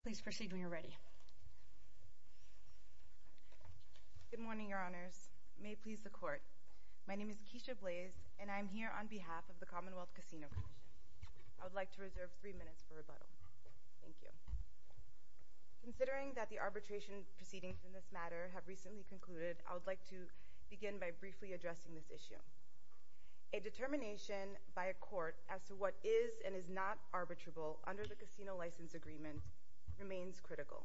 Good morning, Your Honors. May it please the Court, my name is Keisha Blaze, and I am here on behalf of the Commonwealth Casino Commission. I would like to reserve three minutes for rebuttal. Thank you. Considering that the arbitration proceedings in this matter have recently concluded, I would like to begin by briefly addressing this issue. A determination by a court as to what is and is not arbitrable under the Casino License Agreement remains critical.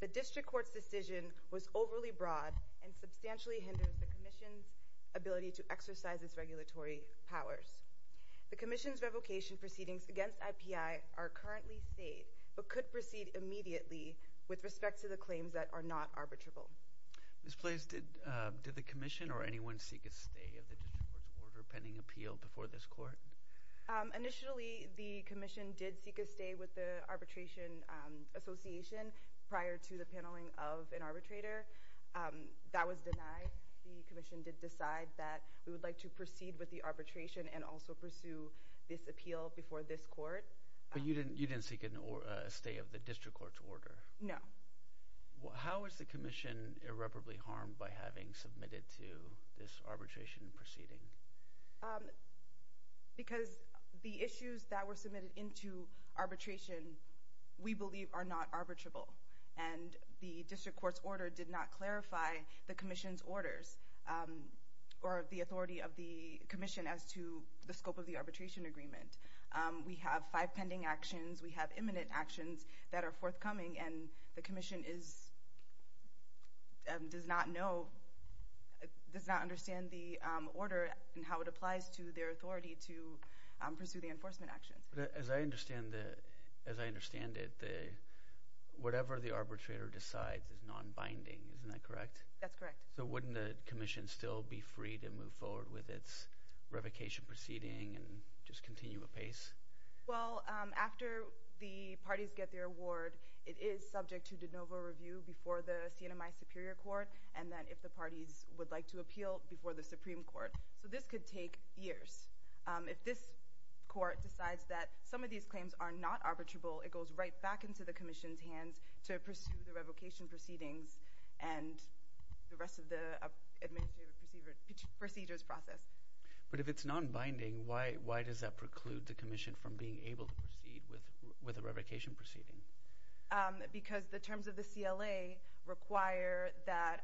The District Court's decision was overly broad and substantially hindered the Commission's ability to exercise its regulatory powers. The Commission's revocation proceedings against IPI are currently state, but could proceed immediately with respect to the claims that are not arbitrable. Ms. Blaze, did the Commission or anyone seek a stay of the District Court's order? Initially, the Commission did seek a stay with the Arbitration Association prior to the paneling of an arbitrator. That was denied. The Commission did decide that we would like to proceed with the arbitration and also pursue this appeal before this Court. But you didn't seek a stay of the District Court's order? No. How is the Commission irreparably harmed by having submitted to this arbitration proceeding? Because the issues that were submitted into arbitration we believe are not arbitrable. And the District Court's order did not clarify the Commission's orders or the authority of the Commission as to the scope of the arbitration agreement. We have five pending actions, we have imminent actions that are forthcoming, and the Commission does not understand the order and how it applies to their authority to pursue the enforcement actions. As I understand it, whatever the arbitrator decides is non-binding, isn't that correct? That's correct. So wouldn't the Commission still be free to move forward with its revocation proceeding and just continue apace? Well, after the parties get their award, it is subject to de novo review before the CNMI Superior Court, and then if the parties would like to appeal before the Supreme Court. So this could take years. If this Court decides that some of these claims are not arbitrable, it goes right back into the Commission's hands to pursue the revocation proceedings and the rest of the administrative procedures process. But if it's non-binding, why does that preclude the Commission from being able to proceed with a revocation proceeding? Because the terms of the CLA require that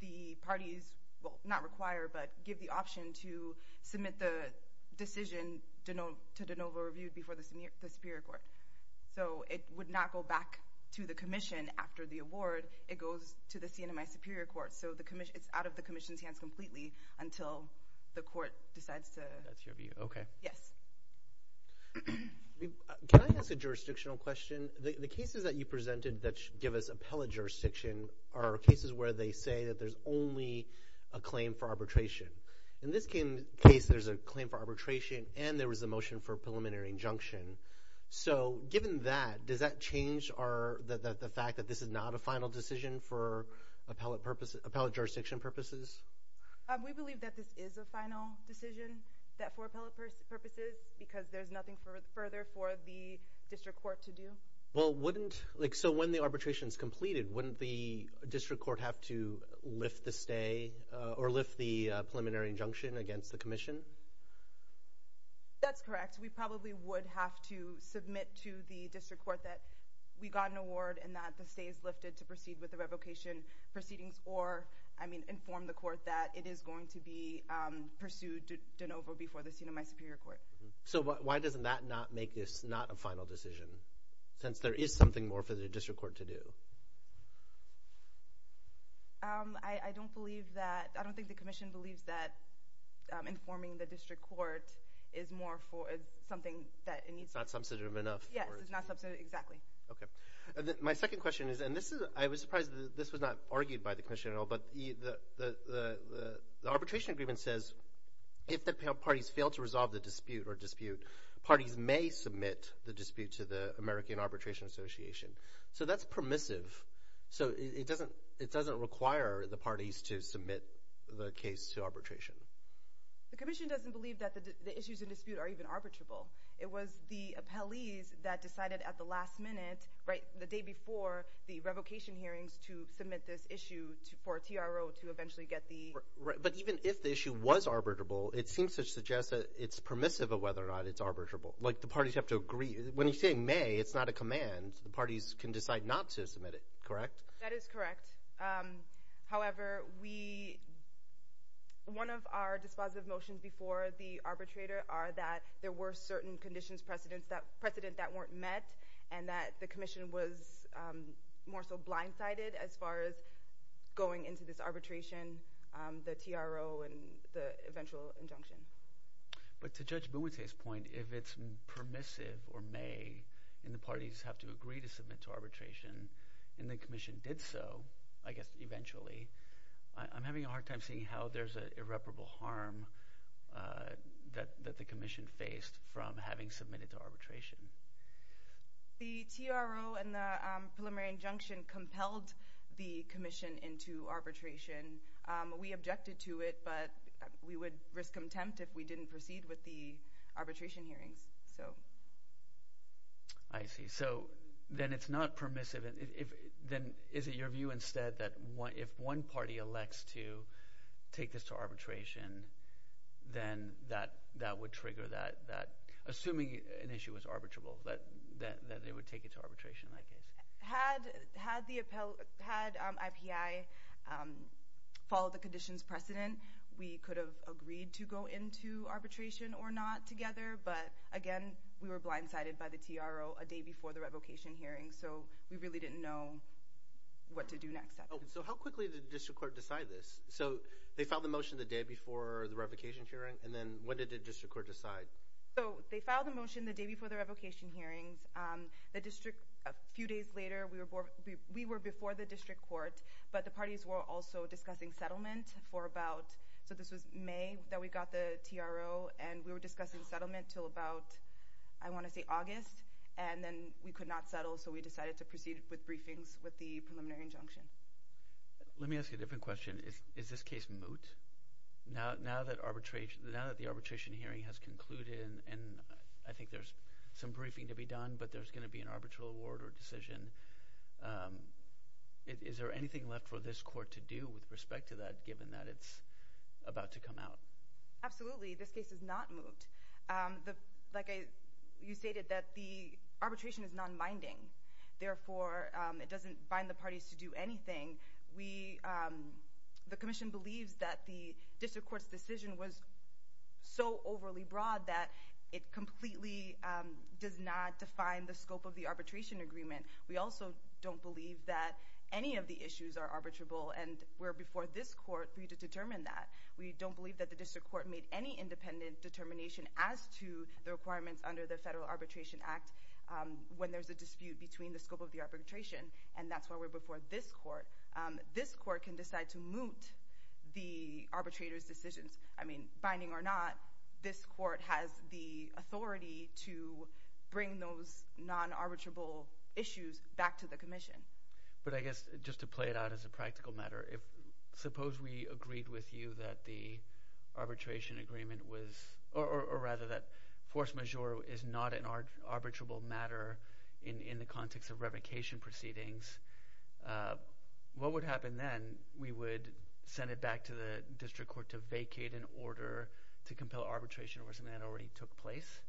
the parties, well not require, but give the option to submit the decision to de novo review before the Superior Court. So it would not go back to the Commission after the award, it goes to the CNMI Superior Court. So it's out of the question. The cases that you presented that give us appellate jurisdiction are cases where they say that there's only a claim for arbitration. In this case, there's a claim for arbitration and there was a motion for preliminary injunction. So given that, does that change the fact that this is not a final decision for appellate jurisdiction purposes? We believe that this is a final decision that for appellate purposes, because there's nothing further for the District Court to do. Well wouldn't, like so when the arbitration is completed, wouldn't the District Court have to lift the stay or lift the preliminary injunction against the Commission? That's correct. We probably would have to submit to the District Court that we got an award and that the stay is lifted to proceed with the revocation proceedings or I mean inform the court that it is going to be pursued over before the CNMI Superior Court. So why doesn't that not make this not a final decision since there is something more for the District Court to do? I don't believe that, I don't think the Commission believes that informing the District Court is more for something that it needs. It's not substantive enough? Yes, it's not substantive enough, exactly. Okay. My second question is, and this is, I was surprised that this was not argued by the Commission at all, but the arbitration agreement says if the parties fail to resolve the dispute or dispute, parties may submit the dispute to the American Arbitration Association. So that's permissive. So it doesn't require the parties to submit the case to arbitration. The Commission doesn't believe that the issues in dispute are even arbitrable. It was the appellees that decided at the last minute, right the day before the revocation hearings, to submit this issue for TRO to eventually get the... But even if the issue was arbitrable, it seems to suggest that it's permissive of whether or not it's arbitrable. Like the parties have to agree. When you say may, it's not a command. The parties can decide not to submit it, correct? That is correct. However, one of our dispositive motions before the arbitrator are that there were certain conditions, precedents that weren't met, and that the Commission was more so blindsided as far as going into this arbitration. The TRO and the eventual injunction. But to Judge Bumute's point, if it's permissive or may, and the parties have to agree to submit to arbitration, and the Commission did so, I guess eventually, I'm having a hard time seeing how there's an irreparable harm that the Commission faced from having submitted to arbitration. The TRO and the preliminary injunction compelled the Commission into arbitration. We objected to it, but we would risk contempt if we didn't proceed with the arbitration hearings. I see. So then it's not permissive. Is it your view instead that if one party elects to take this to arbitration, then that would trigger that... Assuming an issue was arbitrable, that they would take it to arbitration in that case? Had IPI followed the conditions precedent, we could have agreed to go into arbitration or not together, but again, we were blindsided by the TRO a day before the revocation hearing, so we really didn't know what to do next. So how quickly did the District Court decide this? So they filed the motion the day before the revocation hearing, and then what did the District Court decide? So they filed the motion the day before the revocation hearings. A few days later, we were before the District Court, but the parties were also discussing settlement for about... So this was May that we got the TRO, and we were discussing settlement until about, I want to say August, and then we could not settle, so we decided to proceed with briefings with the preliminary injunction. Let me ask you a different question. Is this case moot? Now that the arbitration hearing has concluded, and I think there's some briefing to be done, but there's going to be an arbitral award or decision, is there anything left for this court to do with respect to that, given that it's about to come out? Absolutely. This case is not moot. Like you stated, that the arbitration is non-binding. Therefore, it doesn't bind the decision was so overly broad that it completely does not define the scope of the arbitration agreement. We also don't believe that any of the issues are arbitrable, and we're before this court for you to determine that. We don't believe that the District Court made any independent determination as to the requirements under the Federal Arbitration Act when there's a dispute between the scope of the arbitration, and that's why we're before this court. This court can decide to moot the arbitrator's decisions. I mean, binding or not, this court has the authority to bring those non-arbitrable issues back to the Commission. But I guess just to play it out as a practical matter, if suppose we agreed with you that the arbitration agreement was, or rather that force majeure is not an arbitrable matter in the context of revocation proceedings, what would happen then? We would send it back to the District Court to vacate an order to compel arbitration or something that already took place?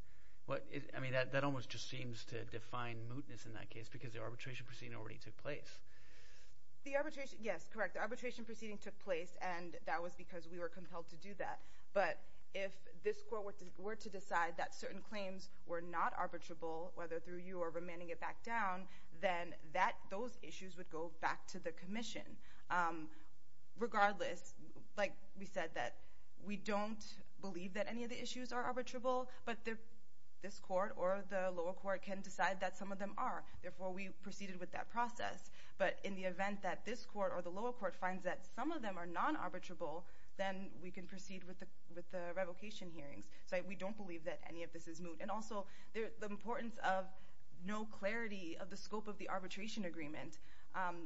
I mean, that almost just seems to define mootness in that case because the arbitration proceeding already took place. The arbitration, yes, correct. The arbitration proceeding took place, and that was because we were compelled to do that. But if this court were to decide that certain claims were not arbitrable, whether through you or remanding it back down, then those issues would go back to the Commission. Regardless, like we said, we don't believe that any of the issues are arbitrable, but this court or the lower court can decide that some of them are. Therefore, we proceeded with that process. But in the event that this court or the lower court finds that some of them are non-arbitrable, then we can proceed with the revocation hearings. So we don't believe that any of this is moot. And also, the importance of no clarity of the scope of the arbitration agreement.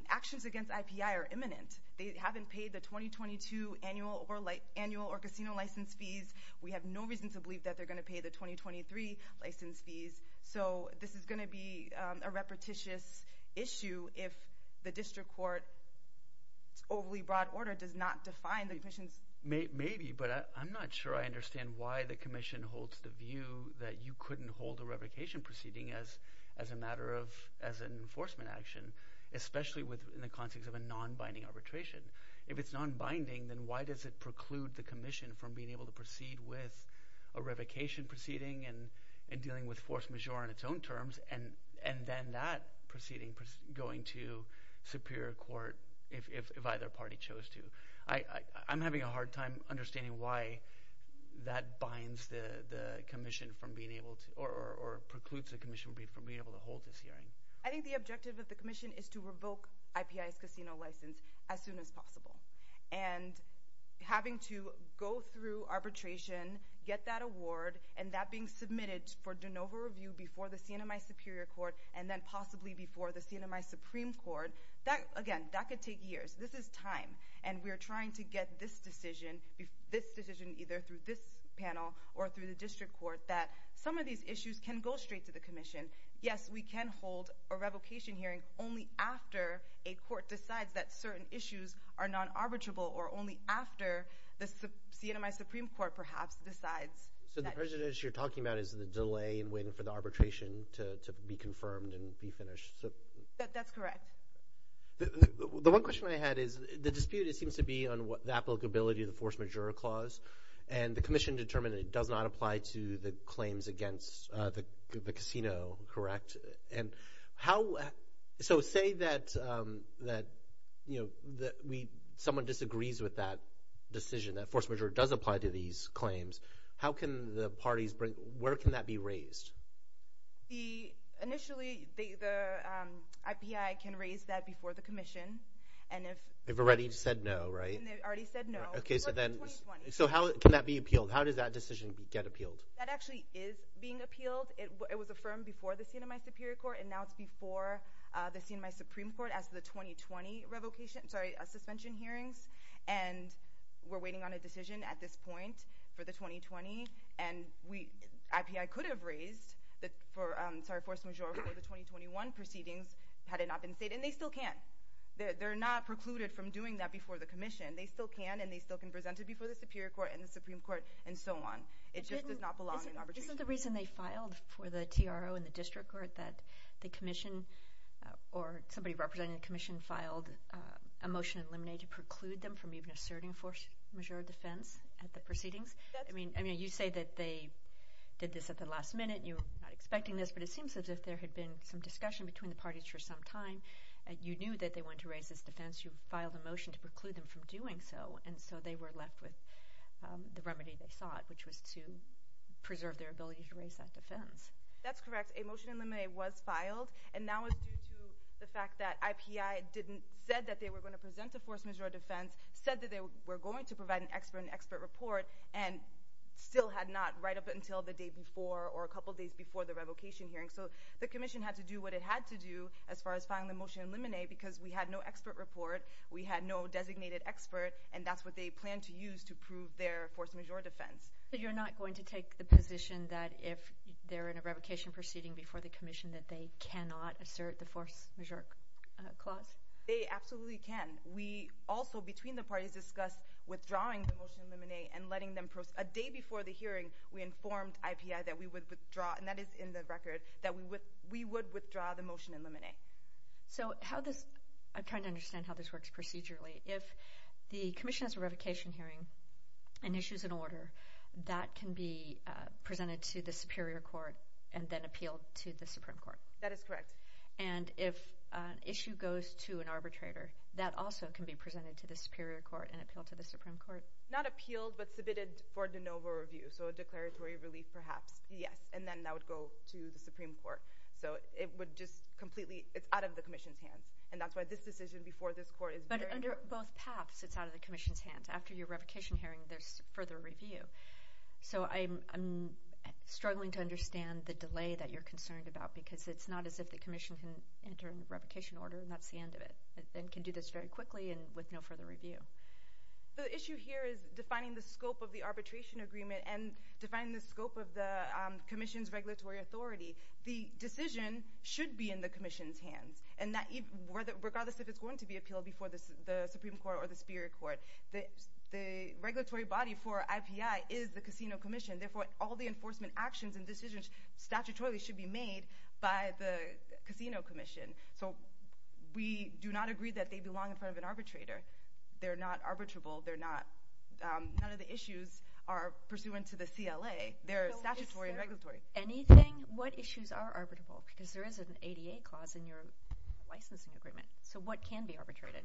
Actions against IPI are imminent. They haven't paid the 2022 annual or like annual or casino license fees. We have no reason to believe that they're going to pay the 2023 license fees. So this is going to be a repetitious issue if the District Court's overly broad order does not define the Commission's... Maybe, but I'm not sure I understand why the Commission holds the view that you couldn't hold a revocation proceeding as a matter of, as an enforcement action, especially in the context of a non-binding arbitration. If it's non-binding, then why does it preclude the Commission from being able to proceed with a revocation proceeding and dealing with force majeure on its own terms, and then that proceeding going to Superior Court if either party chose to? I'm having a hard time understanding why that binds the Commission from being able to, or precludes the Commission from being able to hold this hearing. I think the objective of the Commission is to revoke IPI's casino license as soon as possible. And having to go through arbitration, get that award, and that being the CNMI Supreme Court, again, that could take years. This is time. And we're trying to get this decision, this decision either through this panel or through the District Court, that some of these issues can go straight to the Commission. Yes, we can hold a revocation hearing only after a court decides that certain issues are non-arbitrable, or only after the CNMI Supreme Court, perhaps, decides... So the prejudice you're talking about is the delay in waiting for the arbitration to be confirmed and be finished. That's correct. The one question I had is, the dispute, it seems to be on the applicability of the force majeure clause, and the Commission determined it does not apply to the claims against the casino, correct? And how... So say that, you know, that we... someone disagrees with that decision, that force majeure does apply to these claims, how can the parties bring... where can that be raised? Initially, the IPI can raise that before the Commission, and if... They've already said no, right? They've already said no. Okay, so then... So how can that be appealed? How does that decision get appealed? That actually is being appealed. It was affirmed before the CNMI Superior Court, and now it's before the CNMI Supreme Court as the 2020 revocation... sorry, suspension hearings, and we're waiting on a decision at this point for the 2020, and we... IPI could have raised that for... sorry, force majeure for the 2021 proceedings had it not been stated, and they still can. They're not precluded from doing that before the Commission. They still can, and they still can present it before the Superior Court and the Supreme Court, and so on. It just does not belong in arbitration. Isn't the reason they filed for the TRO and the District Court that the Commission, or somebody representing the Commission, filed a motion in limine to preclude them from even asserting force majeure defense at the proceedings? I mean, I mean, you say that they did this at the last minute. You're not expecting this, but it seems as if there had been some discussion between the parties for some time. You knew that they wanted to raise this defense. You filed a motion to preclude them from doing so, and so they were left with the remedy they sought, which was to preserve their ability to raise that defense. That's correct. A motion in limine was filed, and that was due to the fact that IPI didn't, said that they were going to present a force majeure defense, said that they were going to provide an expert, an expert report, and still had not, right up until the day before, or a couple days before the revocation hearing. So, the Commission had to do what it had to do, as far as filing the motion in limine, because we had no expert report. We had no designated expert, and that's what they planned to use to prove their force majeure defense. So you're not going to take the position that if they're in a revocation proceeding before the Commission, that they cannot assert the force majeure clause? They absolutely can. We also, between the parties, discussed withdrawing the motion in limine, and letting them, a day before the hearing, we informed IPI that we would withdraw, and that is in the record, that we would withdraw the motion in limine. So, how does, I'm trying to understand how this works procedurally. If the Commission has a revocation hearing, and issues an order, that can be presented to the Superior Court, and then appealed to the Supreme Court? That is correct. And if an issue goes to an arbitrator, that also can be presented to the Superior Court, and appealed to the Supreme Court? Not appealed, but submitted for de novo review, so a declaratory relief, perhaps, yes, and then that would go to the Supreme Court. So, it would just completely, it's out of the Commission's hands, and that's why this decision before this Court is very... But under both paths, it's out of the Commission's hands. After your revocation hearing, there's further review. So, I'm struggling to understand the delay that you're concerned about, because it's not as if the Commission can enter a revocation order, and that's the end of it, and can do this very quickly, and with no further review. The issue here is defining the scope of the arbitration agreement, and defining the scope of the Commission's regulatory authority. The decision should be in the Commission's hands, and that, regardless if it's going to be appealed before the Supreme Court or the Superior Court, the regulatory body for IPI is the Casino Commission. Therefore, all the enforcement actions and decisions statutorily should be made by the Casino Commission. So, we do not agree that they belong in front of an arbitrator. They're not arbitrable. They're not... None of the issues are pursuant to the CLA. They're statutory and regulatory. Anything, what issues are arbitrable? Because there is an ADA clause in your licensing agreement. So, what can be arbitrated?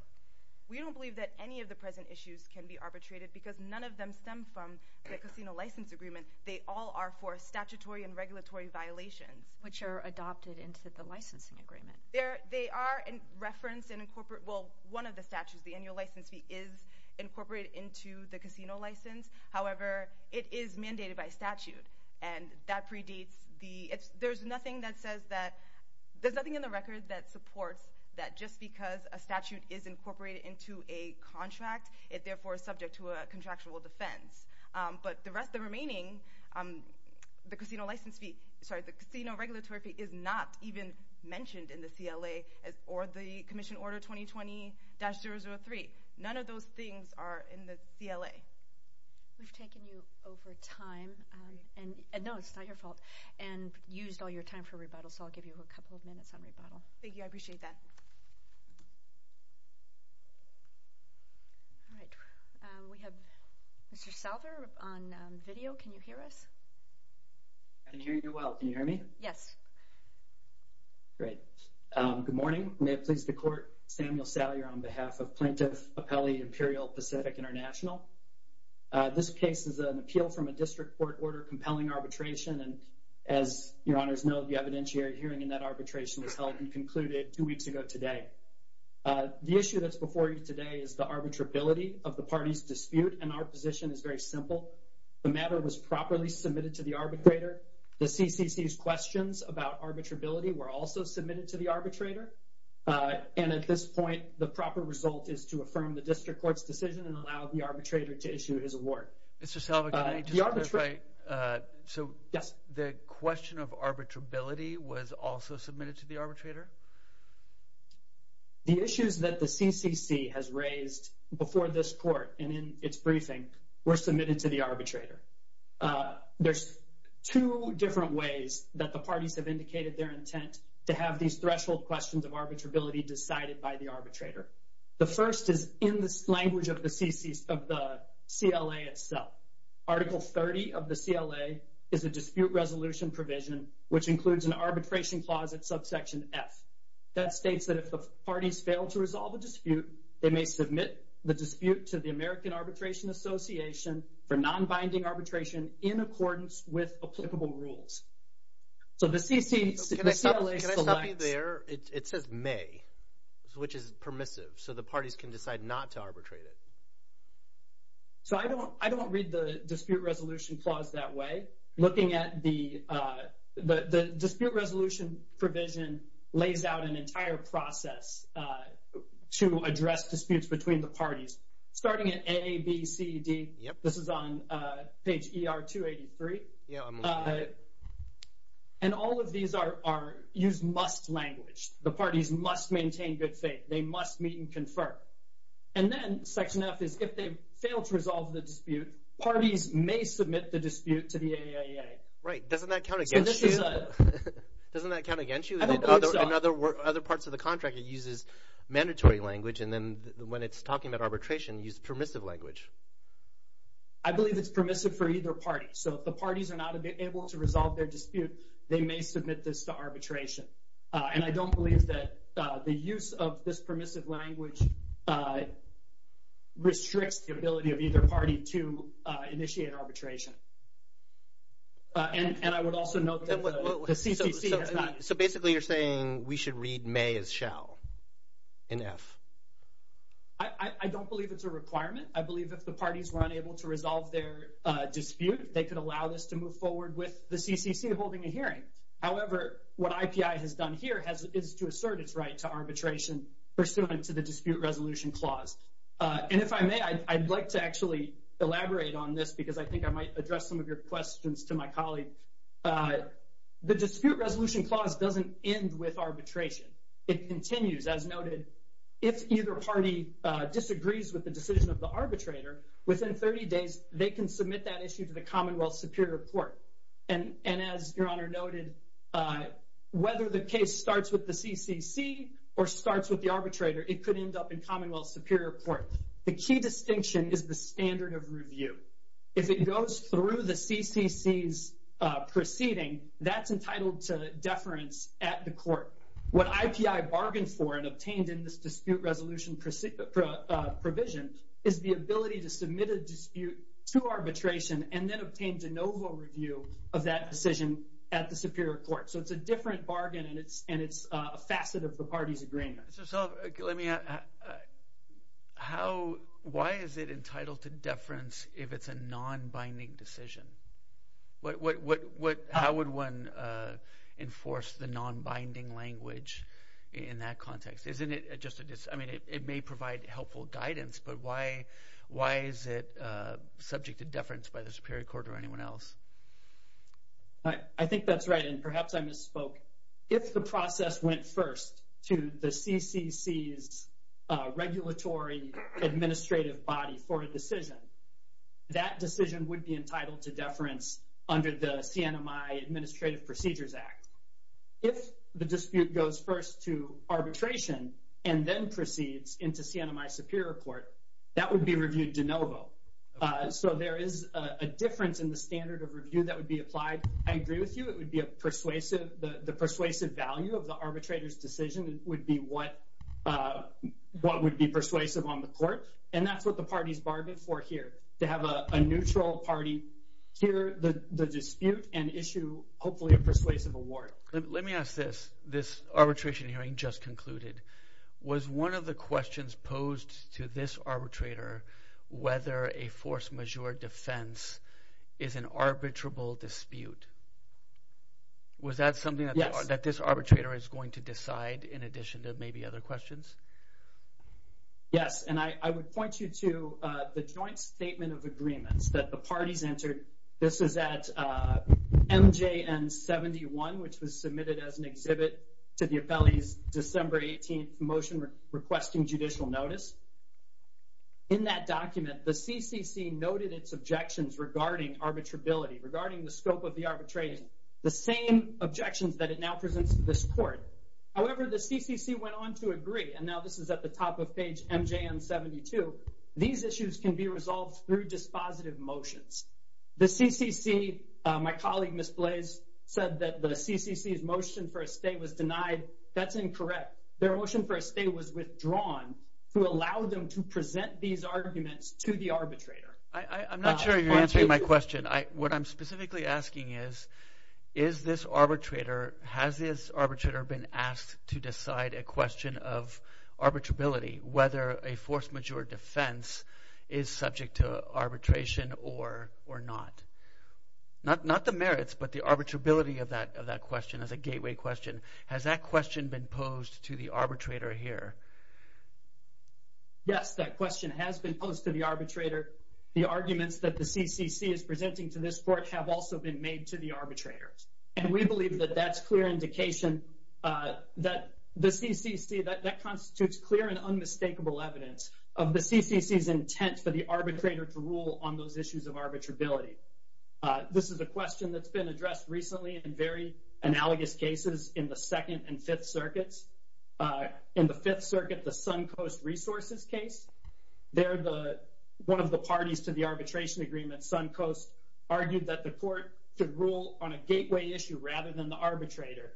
We don't believe that any of the present issues can be arbitrated, because none of them stem from the casino license agreement. They all are for statutory and regulatory violations. Which are adopted into the licensing agreement. They are referenced and incorporated... Well, one of the statutes, the annual license fee, is incorporated into the casino license. However, it is mandated by statute, and that predates the... There's nothing that says that just because a statute is incorporated into a contract, it therefore is subject to a contractual defense. But the rest, the remaining, the casino license fee... Sorry, the casino regulatory fee is not even mentioned in the CLA, or the Commission Order 2020-003. None of those things are in the CLA. We've taken you over time, and no, it's not your fault, and used all your time for rebuttal. So, I'll give you a couple of minutes on rebuttal. Thank you, I appreciate that. All right, we have Mr. Salver on video. Can you hear us? I can hear you well. Can you hear me? Yes. Great. Good morning. May it please the Court, Samuel Salyer on behalf of Plaintiff Appellee Imperial Pacific International. This case is an appeal from a district court order compelling arbitration, and as your honors know, the evidentiary hearing in that arbitration was held and concluded two weeks ago today. The issue that's before you today is the arbitrability of the party's dispute, and our position is very simple. The matter was properly submitted to the arbitrator. The CCC's questions about arbitrability were also submitted to the arbitrator, and at this point, the proper result is to affirm the district court's decision and Mr. Salver, can I just clarify? So, the question of arbitrability was also submitted to the arbitrator? The issues that the CCC has raised before this court, and in its briefing, were submitted to the arbitrator. There's two different ways that the parties have indicated their intent to have these threshold questions of arbitrability decided by the arbitrator. The first is in the language of the CLA itself. Article 30 of the CLA is a dispute resolution provision, which includes an arbitration clause at subsection F. That states that if the parties fail to resolve a dispute, they may submit the dispute to the American Arbitration Association for non-binding arbitration in accordance with applicable rules. So, the CLA selects... Can I stop you there? It says may, which is non-arbitrated. So, I don't read the dispute resolution clause that way. Looking at the dispute resolution provision lays out an entire process to address disputes between the parties, starting at A, B, C, D. This is on page ER 283. And all of these use must language. The parties must maintain good And then, section F is, if they fail to resolve the dispute, parties may submit the dispute to the AAEA. Right. Doesn't that count against you? Doesn't that count against you? I don't think so. In other parts of the contract, it uses mandatory language, and then when it's talking about arbitration, it uses permissive language. I believe it's permissive for either party. So, if the parties are not able to resolve their dispute, they may submit this to arbitration. And I don't believe that the use of this permissive language restricts the ability of either party to initiate arbitration. And I would also note that the CCC has not... So, basically, you're saying we should read may as shall in F. I don't believe it's a requirement. I believe if the parties were unable to resolve their dispute, they could allow this to move forward with the CCC holding a hearing. However, what IPI has done here is to assert its right to the dispute resolution clause. And if I may, I'd like to actually elaborate on this because I think I might address some of your questions to my colleague. The dispute resolution clause doesn't end with arbitration. It continues, as noted, if either party disagrees with the decision of the arbitrator, within 30 days, they can submit that issue to the Commonwealth Superior Court. And as Your Honor noted, whether the case starts with the dispute resolution clause, it could end up in Commonwealth Superior Court. The key distinction is the standard of review. If it goes through the CCC's proceeding, that's entitled to deference at the court. What IPI bargained for and obtained in this dispute resolution provision is the ability to submit a dispute to arbitration and then obtain de novo review of that decision at the Superior Court. So it's a different bargain, and it's a facet of the party's agreement. So let me ask, how, why is it entitled to deference if it's a non-binding decision? What, what, what, how would one enforce the non-binding language in that context? Isn't it just a, I mean, it may provide helpful guidance, but why, why is it subject to deference by the Superior Court or anyone else? I think that's right. And perhaps I misspoke. If the CCC's regulatory administrative body for a decision, that decision would be entitled to deference under the CNMI Administrative Procedures Act. If the dispute goes first to arbitration and then proceeds into CNMI Superior Court, that would be reviewed de novo. So there is a difference in the standard of review that would be applied. I agree with you. It would be a matter of what, what would be persuasive on the court. And that's what the parties bargained for here, to have a neutral party hear the dispute and issue, hopefully, a persuasive award. Let me ask this. This arbitration hearing just concluded. Was one of the questions posed to this arbitrator whether a force de jure defense is an arbitrable dispute? Was that something that this arbitrator is going to decide in addition to maybe other questions? Yes. And I would point you to the joint statement of agreements that the parties entered. This is at MJN 71, which was submitted as an objection regarding arbitrability, regarding the scope of the arbitration, the same objections that it now presents to this court. However, the CCC went on to agree, and now this is at the top of page MJN 72, these issues can be resolved through dispositive motions. The CCC, my colleague, Ms. Blais, said that the CCC's motion for a stay was denied. That's incorrect. Their motion for a stay was withdrawn to allow them to present these arguments to the arbitrator. I'm not sure you're answering my question. What I'm specifically asking is, is this arbitrator, has this arbitrator been asked to decide a question of arbitrability, whether a force de jure defense is subject to arbitration or not? Not the merits, but the arbitrability of that question. Yes, that question has been posed to the arbitrator. The arguments that the CCC is presenting to this court have also been made to the arbitrators. And we believe that that's clear indication that the CCC, that constitutes clear and unmistakable evidence of the CCC's intent for the arbitrator to rule on those issues of arbitrability. This is a question that's been addressed recently in very analogous cases in the Second and Fifth Circuits. In the Fifth Circuit, the Suncoast Resources case, one of the parties to the arbitration agreement, Suncoast, argued that the court could rule on a gateway issue rather than the arbitrator.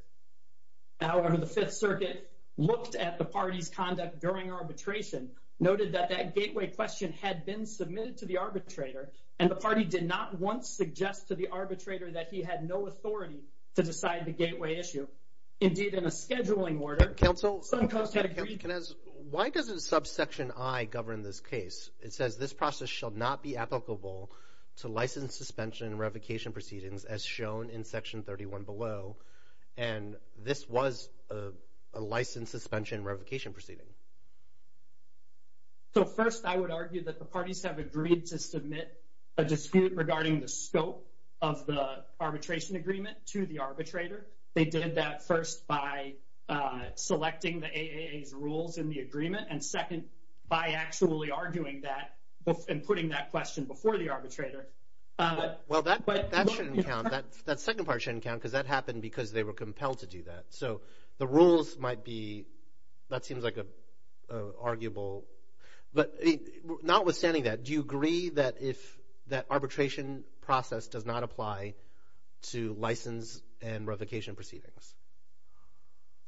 However, the Fifth Circuit looked at the party's conduct during arbitration, noted that that gateway question had been submitted to the arbitrator, and the party did not once suggest to the arbitrator that he had no authority to decide the gateway issue. Indeed, in a scheduling order, Suncoast had agreed— Counsel, why doesn't subsection I govern this case? It says, this process shall not be applicable to license suspension revocation proceedings, as shown in section 31 below. And this was a license suspension revocation proceeding. So first, I would argue that the parties have agreed to submit a dispute regarding the scope of the arbitration agreement to the arbitrator. They did that first by selecting the AAA's rules in the agreement, and second, by actually arguing that and putting that question before the arbitrator. Well, that shouldn't count. That second part shouldn't count because that happened because they were compelled to do that. So the rules might be—that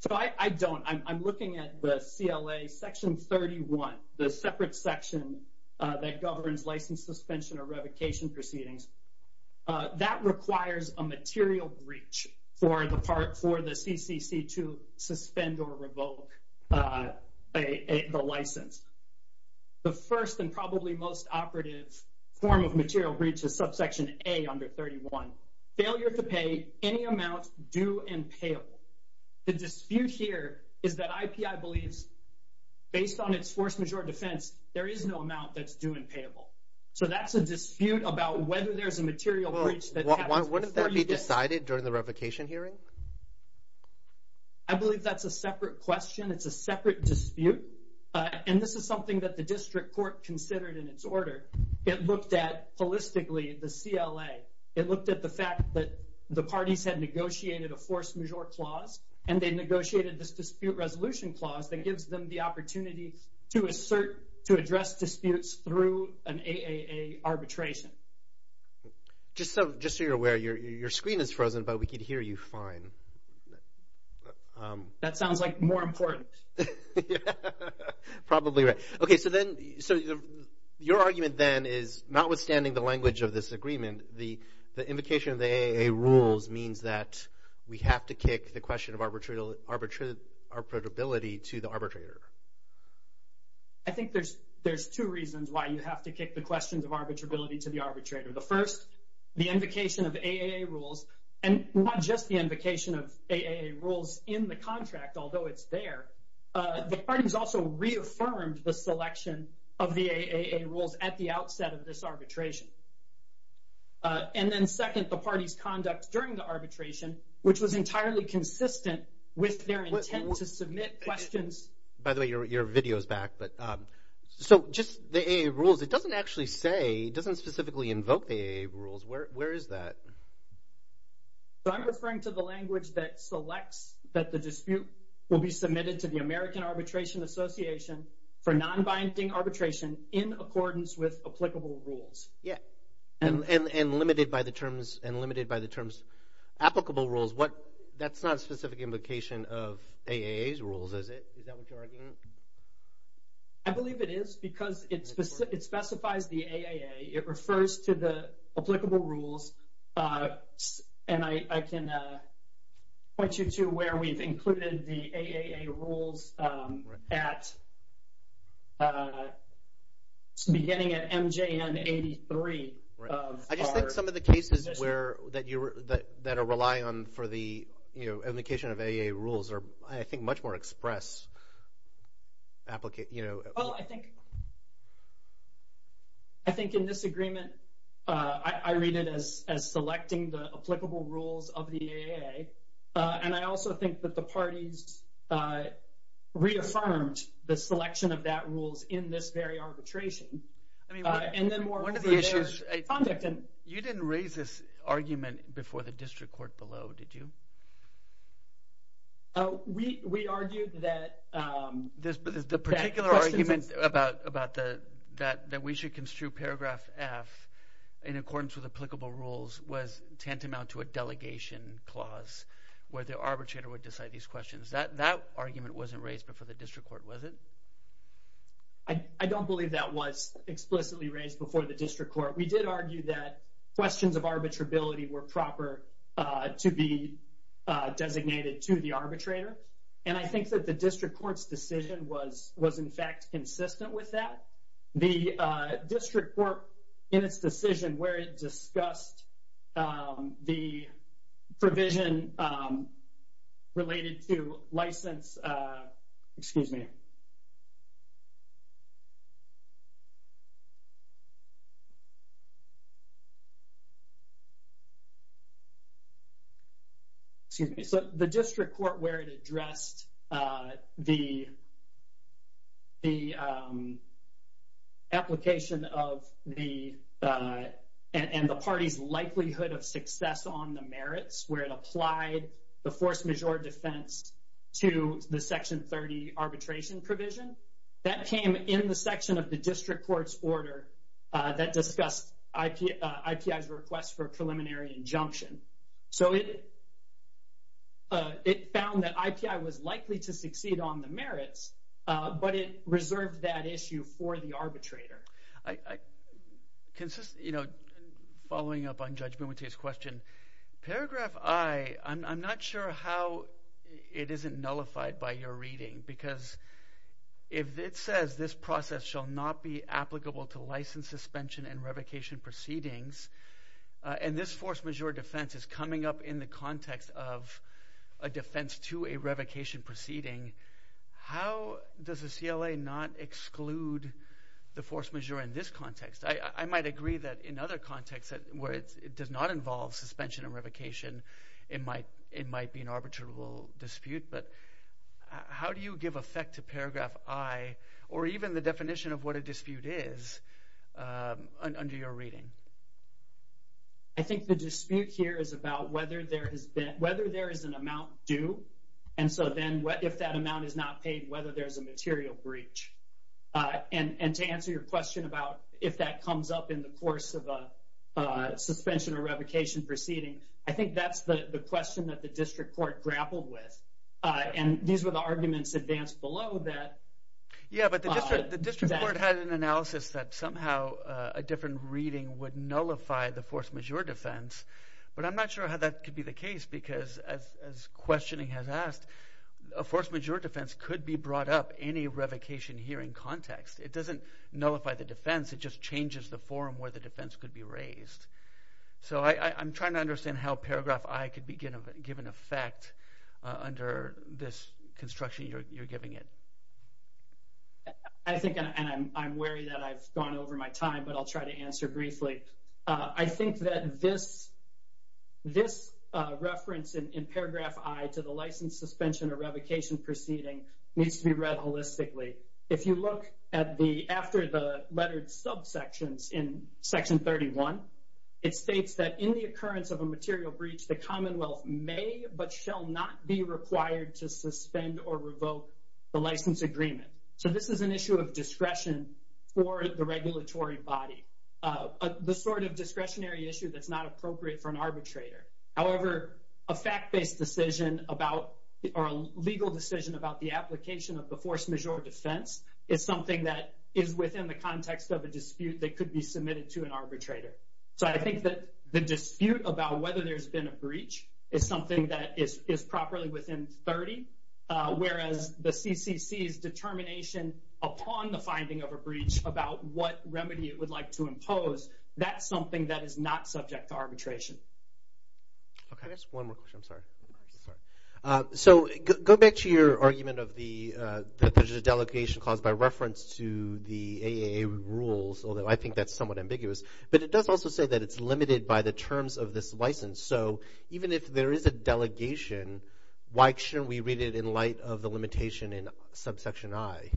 So I don't—I'm looking at the CLA section 31, the separate section that governs license suspension or revocation proceedings. That requires a material breach for the part—for the CCC to suspend or revoke the license. The first and probably most operative form of material breach is subsection A under 31, failure to pay any amount due and payable. The dispute here is that IPI believes, based on its force majeure defense, there is no amount that's due and payable. So that's a dispute about whether there's a material breach that happens before you get— Wouldn't that be decided during the revocation hearing? I believe that's a separate question. It's a separate dispute. And this is something that the district court considered in its order. It looked at, the parties had negotiated a force majeure clause, and they negotiated this dispute resolution clause that gives them the opportunity to assert—to address disputes through an AAA arbitration. Just so you're aware, your screen is frozen, but we can hear you fine. That sounds like more important. Probably right. Okay, so then—so your argument then is, notwithstanding the language of this agreement, the invocation of the AAA rules means that we have to kick the question of arbitrability to the arbitrator. I think there's two reasons why you have to kick the questions of arbitrability to the arbitrator. The first, the invocation of AAA rules, and not just the AAA rules, the parties also reaffirmed the selection of the AAA rules at the outset of this arbitration. And then second, the parties' conduct during the arbitration, which was entirely consistent with their intent to submit questions— By the way, your video is back, but—so just the AAA rules, it doesn't actually say—it doesn't specifically invoke the AAA rules. Where is that? So I'm referring to the language that selects that the dispute will be submitted to the American Arbitration Association for non-binding arbitration in accordance with applicable rules. Yeah, and limited by the terms—and limited by the terms applicable rules. What—that's not a specific invocation of AAA's rules, is it? Is that what you're arguing? I believe it is, because it specifies the AAA. It refers to the applicable rules, and I can point you to where we've included the AAA rules at—beginning at MJN 83 of our— Oh, I think—I think in this agreement, I read it as selecting the applicable rules of the AAA, and I also think that the parties reaffirmed the selection of that rules in this very arbitration. I mean, one of the issues— And then more over their conduct and— You didn't raise this argument before the district court below, did you? We argued that— The particular argument about the—that we should construe paragraph F in accordance with applicable rules was tantamount to a delegation clause where the arbitrator would decide these questions. That argument wasn't raised before the district court, was it? I don't believe that was explicitly raised before the district court. We did argue that questions of arbitrability were proper to be designated to the arbitrator, and I think that the district court's decision was, in fact, consistent with that. The district court, in its decision, where it discussed the provision related to license—excuse me. So, the district court, where it addressed the—the application of the—and the party's likelihood of success on the merits, where it applied the force majeure defense to the Section 30 arbitration provision, that came in the section of the district court's order that discussed IPI's request for a preliminary injunction. So, it—it found that IPI was likely to succeed on the merits, but it reserved that issue for the arbitrator. I—I—consist—you know, following up on Judge Momota's question, paragraph I, I'm—I'm not sure how it isn't nullified by your reading, because if it says this process shall not be applicable to license suspension and revocation proceedings, and this force majeure defense is coming up in the context of a defense to a revocation proceeding, how does the CLA not exclude the force majeure in this context? I—I might agree that in other contexts where it's—it does not involve suspension and revocation, it might—it might be an arbitrable dispute, but how do you give effect to paragraph I, or even the definition of what a dispute is, under your reading? I think the dispute here is about whether there has been—whether there is an amount due, and so then what—if that amount is not paid, whether there's a material breach. And—and to answer your question about if that comes up in the course of a suspension or revocation proceeding, I think that's the—the question that the district court grappled with, and these were the arguments advanced below that. Yeah, but the district—the district court had an analysis that somehow a different reading would nullify the force majeure defense, but I'm not sure how that could be the case, because as—as questioning has asked, a force majeure defense could be brought up in a revocation hearing context. It doesn't nullify the defense, it just changes the forum where the defense could be raised. So I—I'm trying to understand how paragraph I could be given effect under this construction you're giving it. I think—and I'm wary that I've gone over my time, but I'll try to answer briefly. I think that this—this reference in paragraph I to the license suspension or revocation proceeding needs to be read holistically. If you look at the—after the lettered subsections in section 31, it states that in the occurrence of a material breach, the Commonwealth may but shall not be required to suspend or revoke the license agreement. So this is an issue of discretion for the regulatory body, the sort of discretionary issue that's not appropriate for an arbitrator. However, a fact-based decision about—or a legal decision about the application of the force majeure defense is something that is within the context of a dispute that could be submitted to an arbitrator. So I think that the dispute about whether there's been a breach is something that is—is properly within 30, whereas the CCC's determination upon the finding of a breach about what remedy it would like to impose, that's something that is not subject to arbitration. Okay. Just one more question, I'm sorry. Of course. So go back to your argument of the—that there's a delegation caused by reference to the AAA rules, although I think that's somewhat ambiguous. But it does also say that it's limited by the terms of this license. So even if there is a delegation, why shouldn't we read it in light of the limitation in subsection I?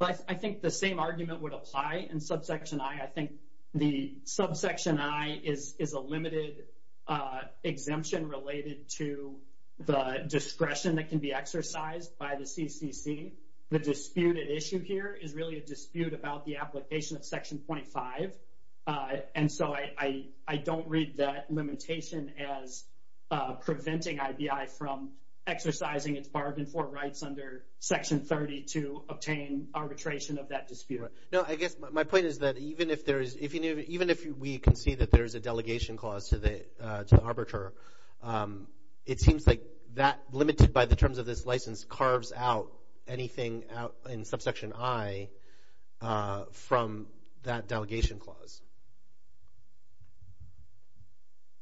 Well, I think the same argument would apply in subsection I. I think the subsection I is a limited exemption related to the discretion that can be exercised by the CCC. The disputed issue here is really a dispute about the application of section 25. And so I don't read that limitation as preventing IBI from exercising its bargain for rights under section 30 to obtain arbitration of that dispute. No, I guess my point is that even if we can see that there is a delegation clause to the arbiter, it seems like that, limited by the terms of this license, carves out anything in subsection I from that delegation clause.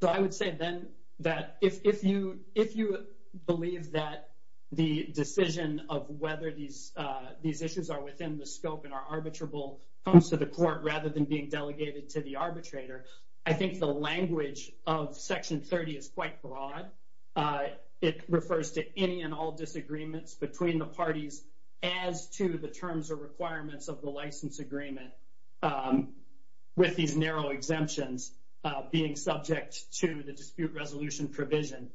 So I would say then that if you believe that the decision of whether these issues are within the scope and are arbitrable comes to the court rather than being delegated to the arbitrator, I think the language of section 30 is quite broad. It refers to any and all disagreements between the parties as to the terms or requirements of the license agreement. With these narrow exemptions being subject to the dispute resolution provision.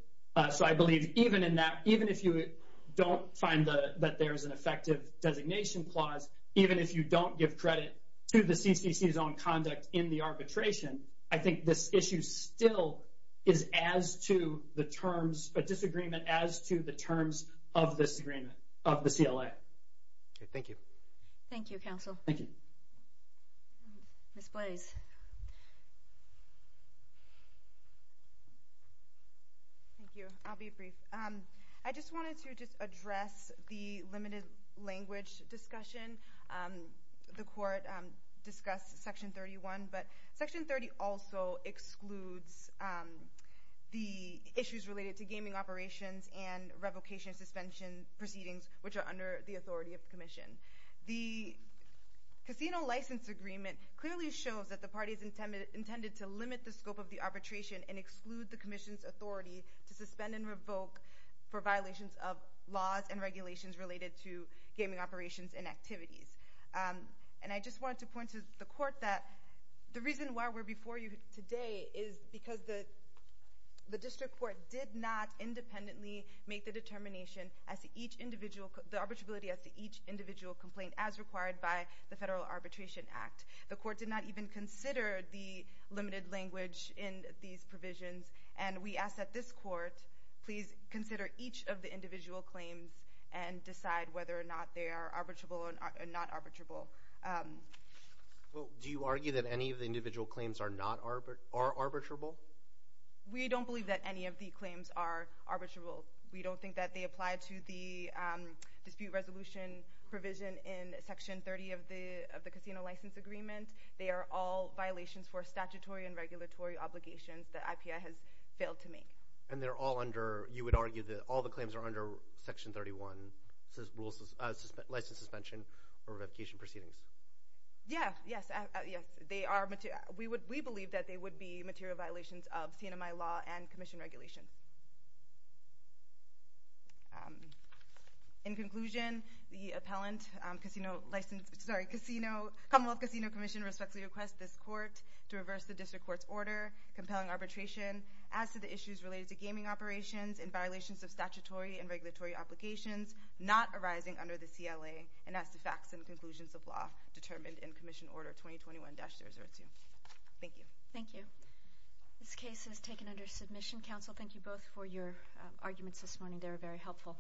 So I believe even in that, even if you don't find that there is an effective designation clause, even if you don't give credit to the CCC's own conduct in the arbitration, I think this issue still is as to the terms, a disagreement as to the terms of this agreement of the CLA. Thank you. Thank you, counsel. Thank you. Ms. Blais. Thank you. I'll be brief. I just wanted to just address the limited language discussion. The court discussed section 31, but section 30 also excludes the issues related to gaming operations and revocation suspension proceedings, which are under the authority of the commission. The casino license agreement clearly shows that the parties intended to limit the scope of the arbitration and exclude the commission's authority to suspend and revoke for violations of laws and regulations related to gaming operations and activities. And I just wanted to point to the court that the reason why we're before you today is because the district court did not independently make the arbitrability as to each individual complaint as required by the Federal Arbitration Act. The court did not even consider the limited language in these provisions, and we ask that this court please consider each of the individual claims and decide whether or not they are arbitrable or not arbitrable. Well, do you argue that any of the individual claims are arbitrable? We don't believe that any of the claims are arbitrable. We don't think that they apply to the dispute resolution provision in section 30 of the casino license agreement. They are all violations for statutory and regulatory obligations that IPI has failed to make. And they're all under – you would argue that all the claims are under Section 31 license suspension or revocation proceedings? Yeah, yes. They are – we believe that they would be material violations of CNMI law and commission regulation. In conclusion, the appellant, Casino License – sorry, Casino – Commonwealth Casino Commission respectfully requests this court to reverse the district court's order compelling arbitration as to the issues related to gaming operations and violations of statutory and regulatory obligations not arising under the CLA and as to facts and conclusions of law determined in Commission Order 2021-302. Thank you. Thank you. This case is taken under submission. Counsel, thank you both for your arguments this morning. They were very helpful.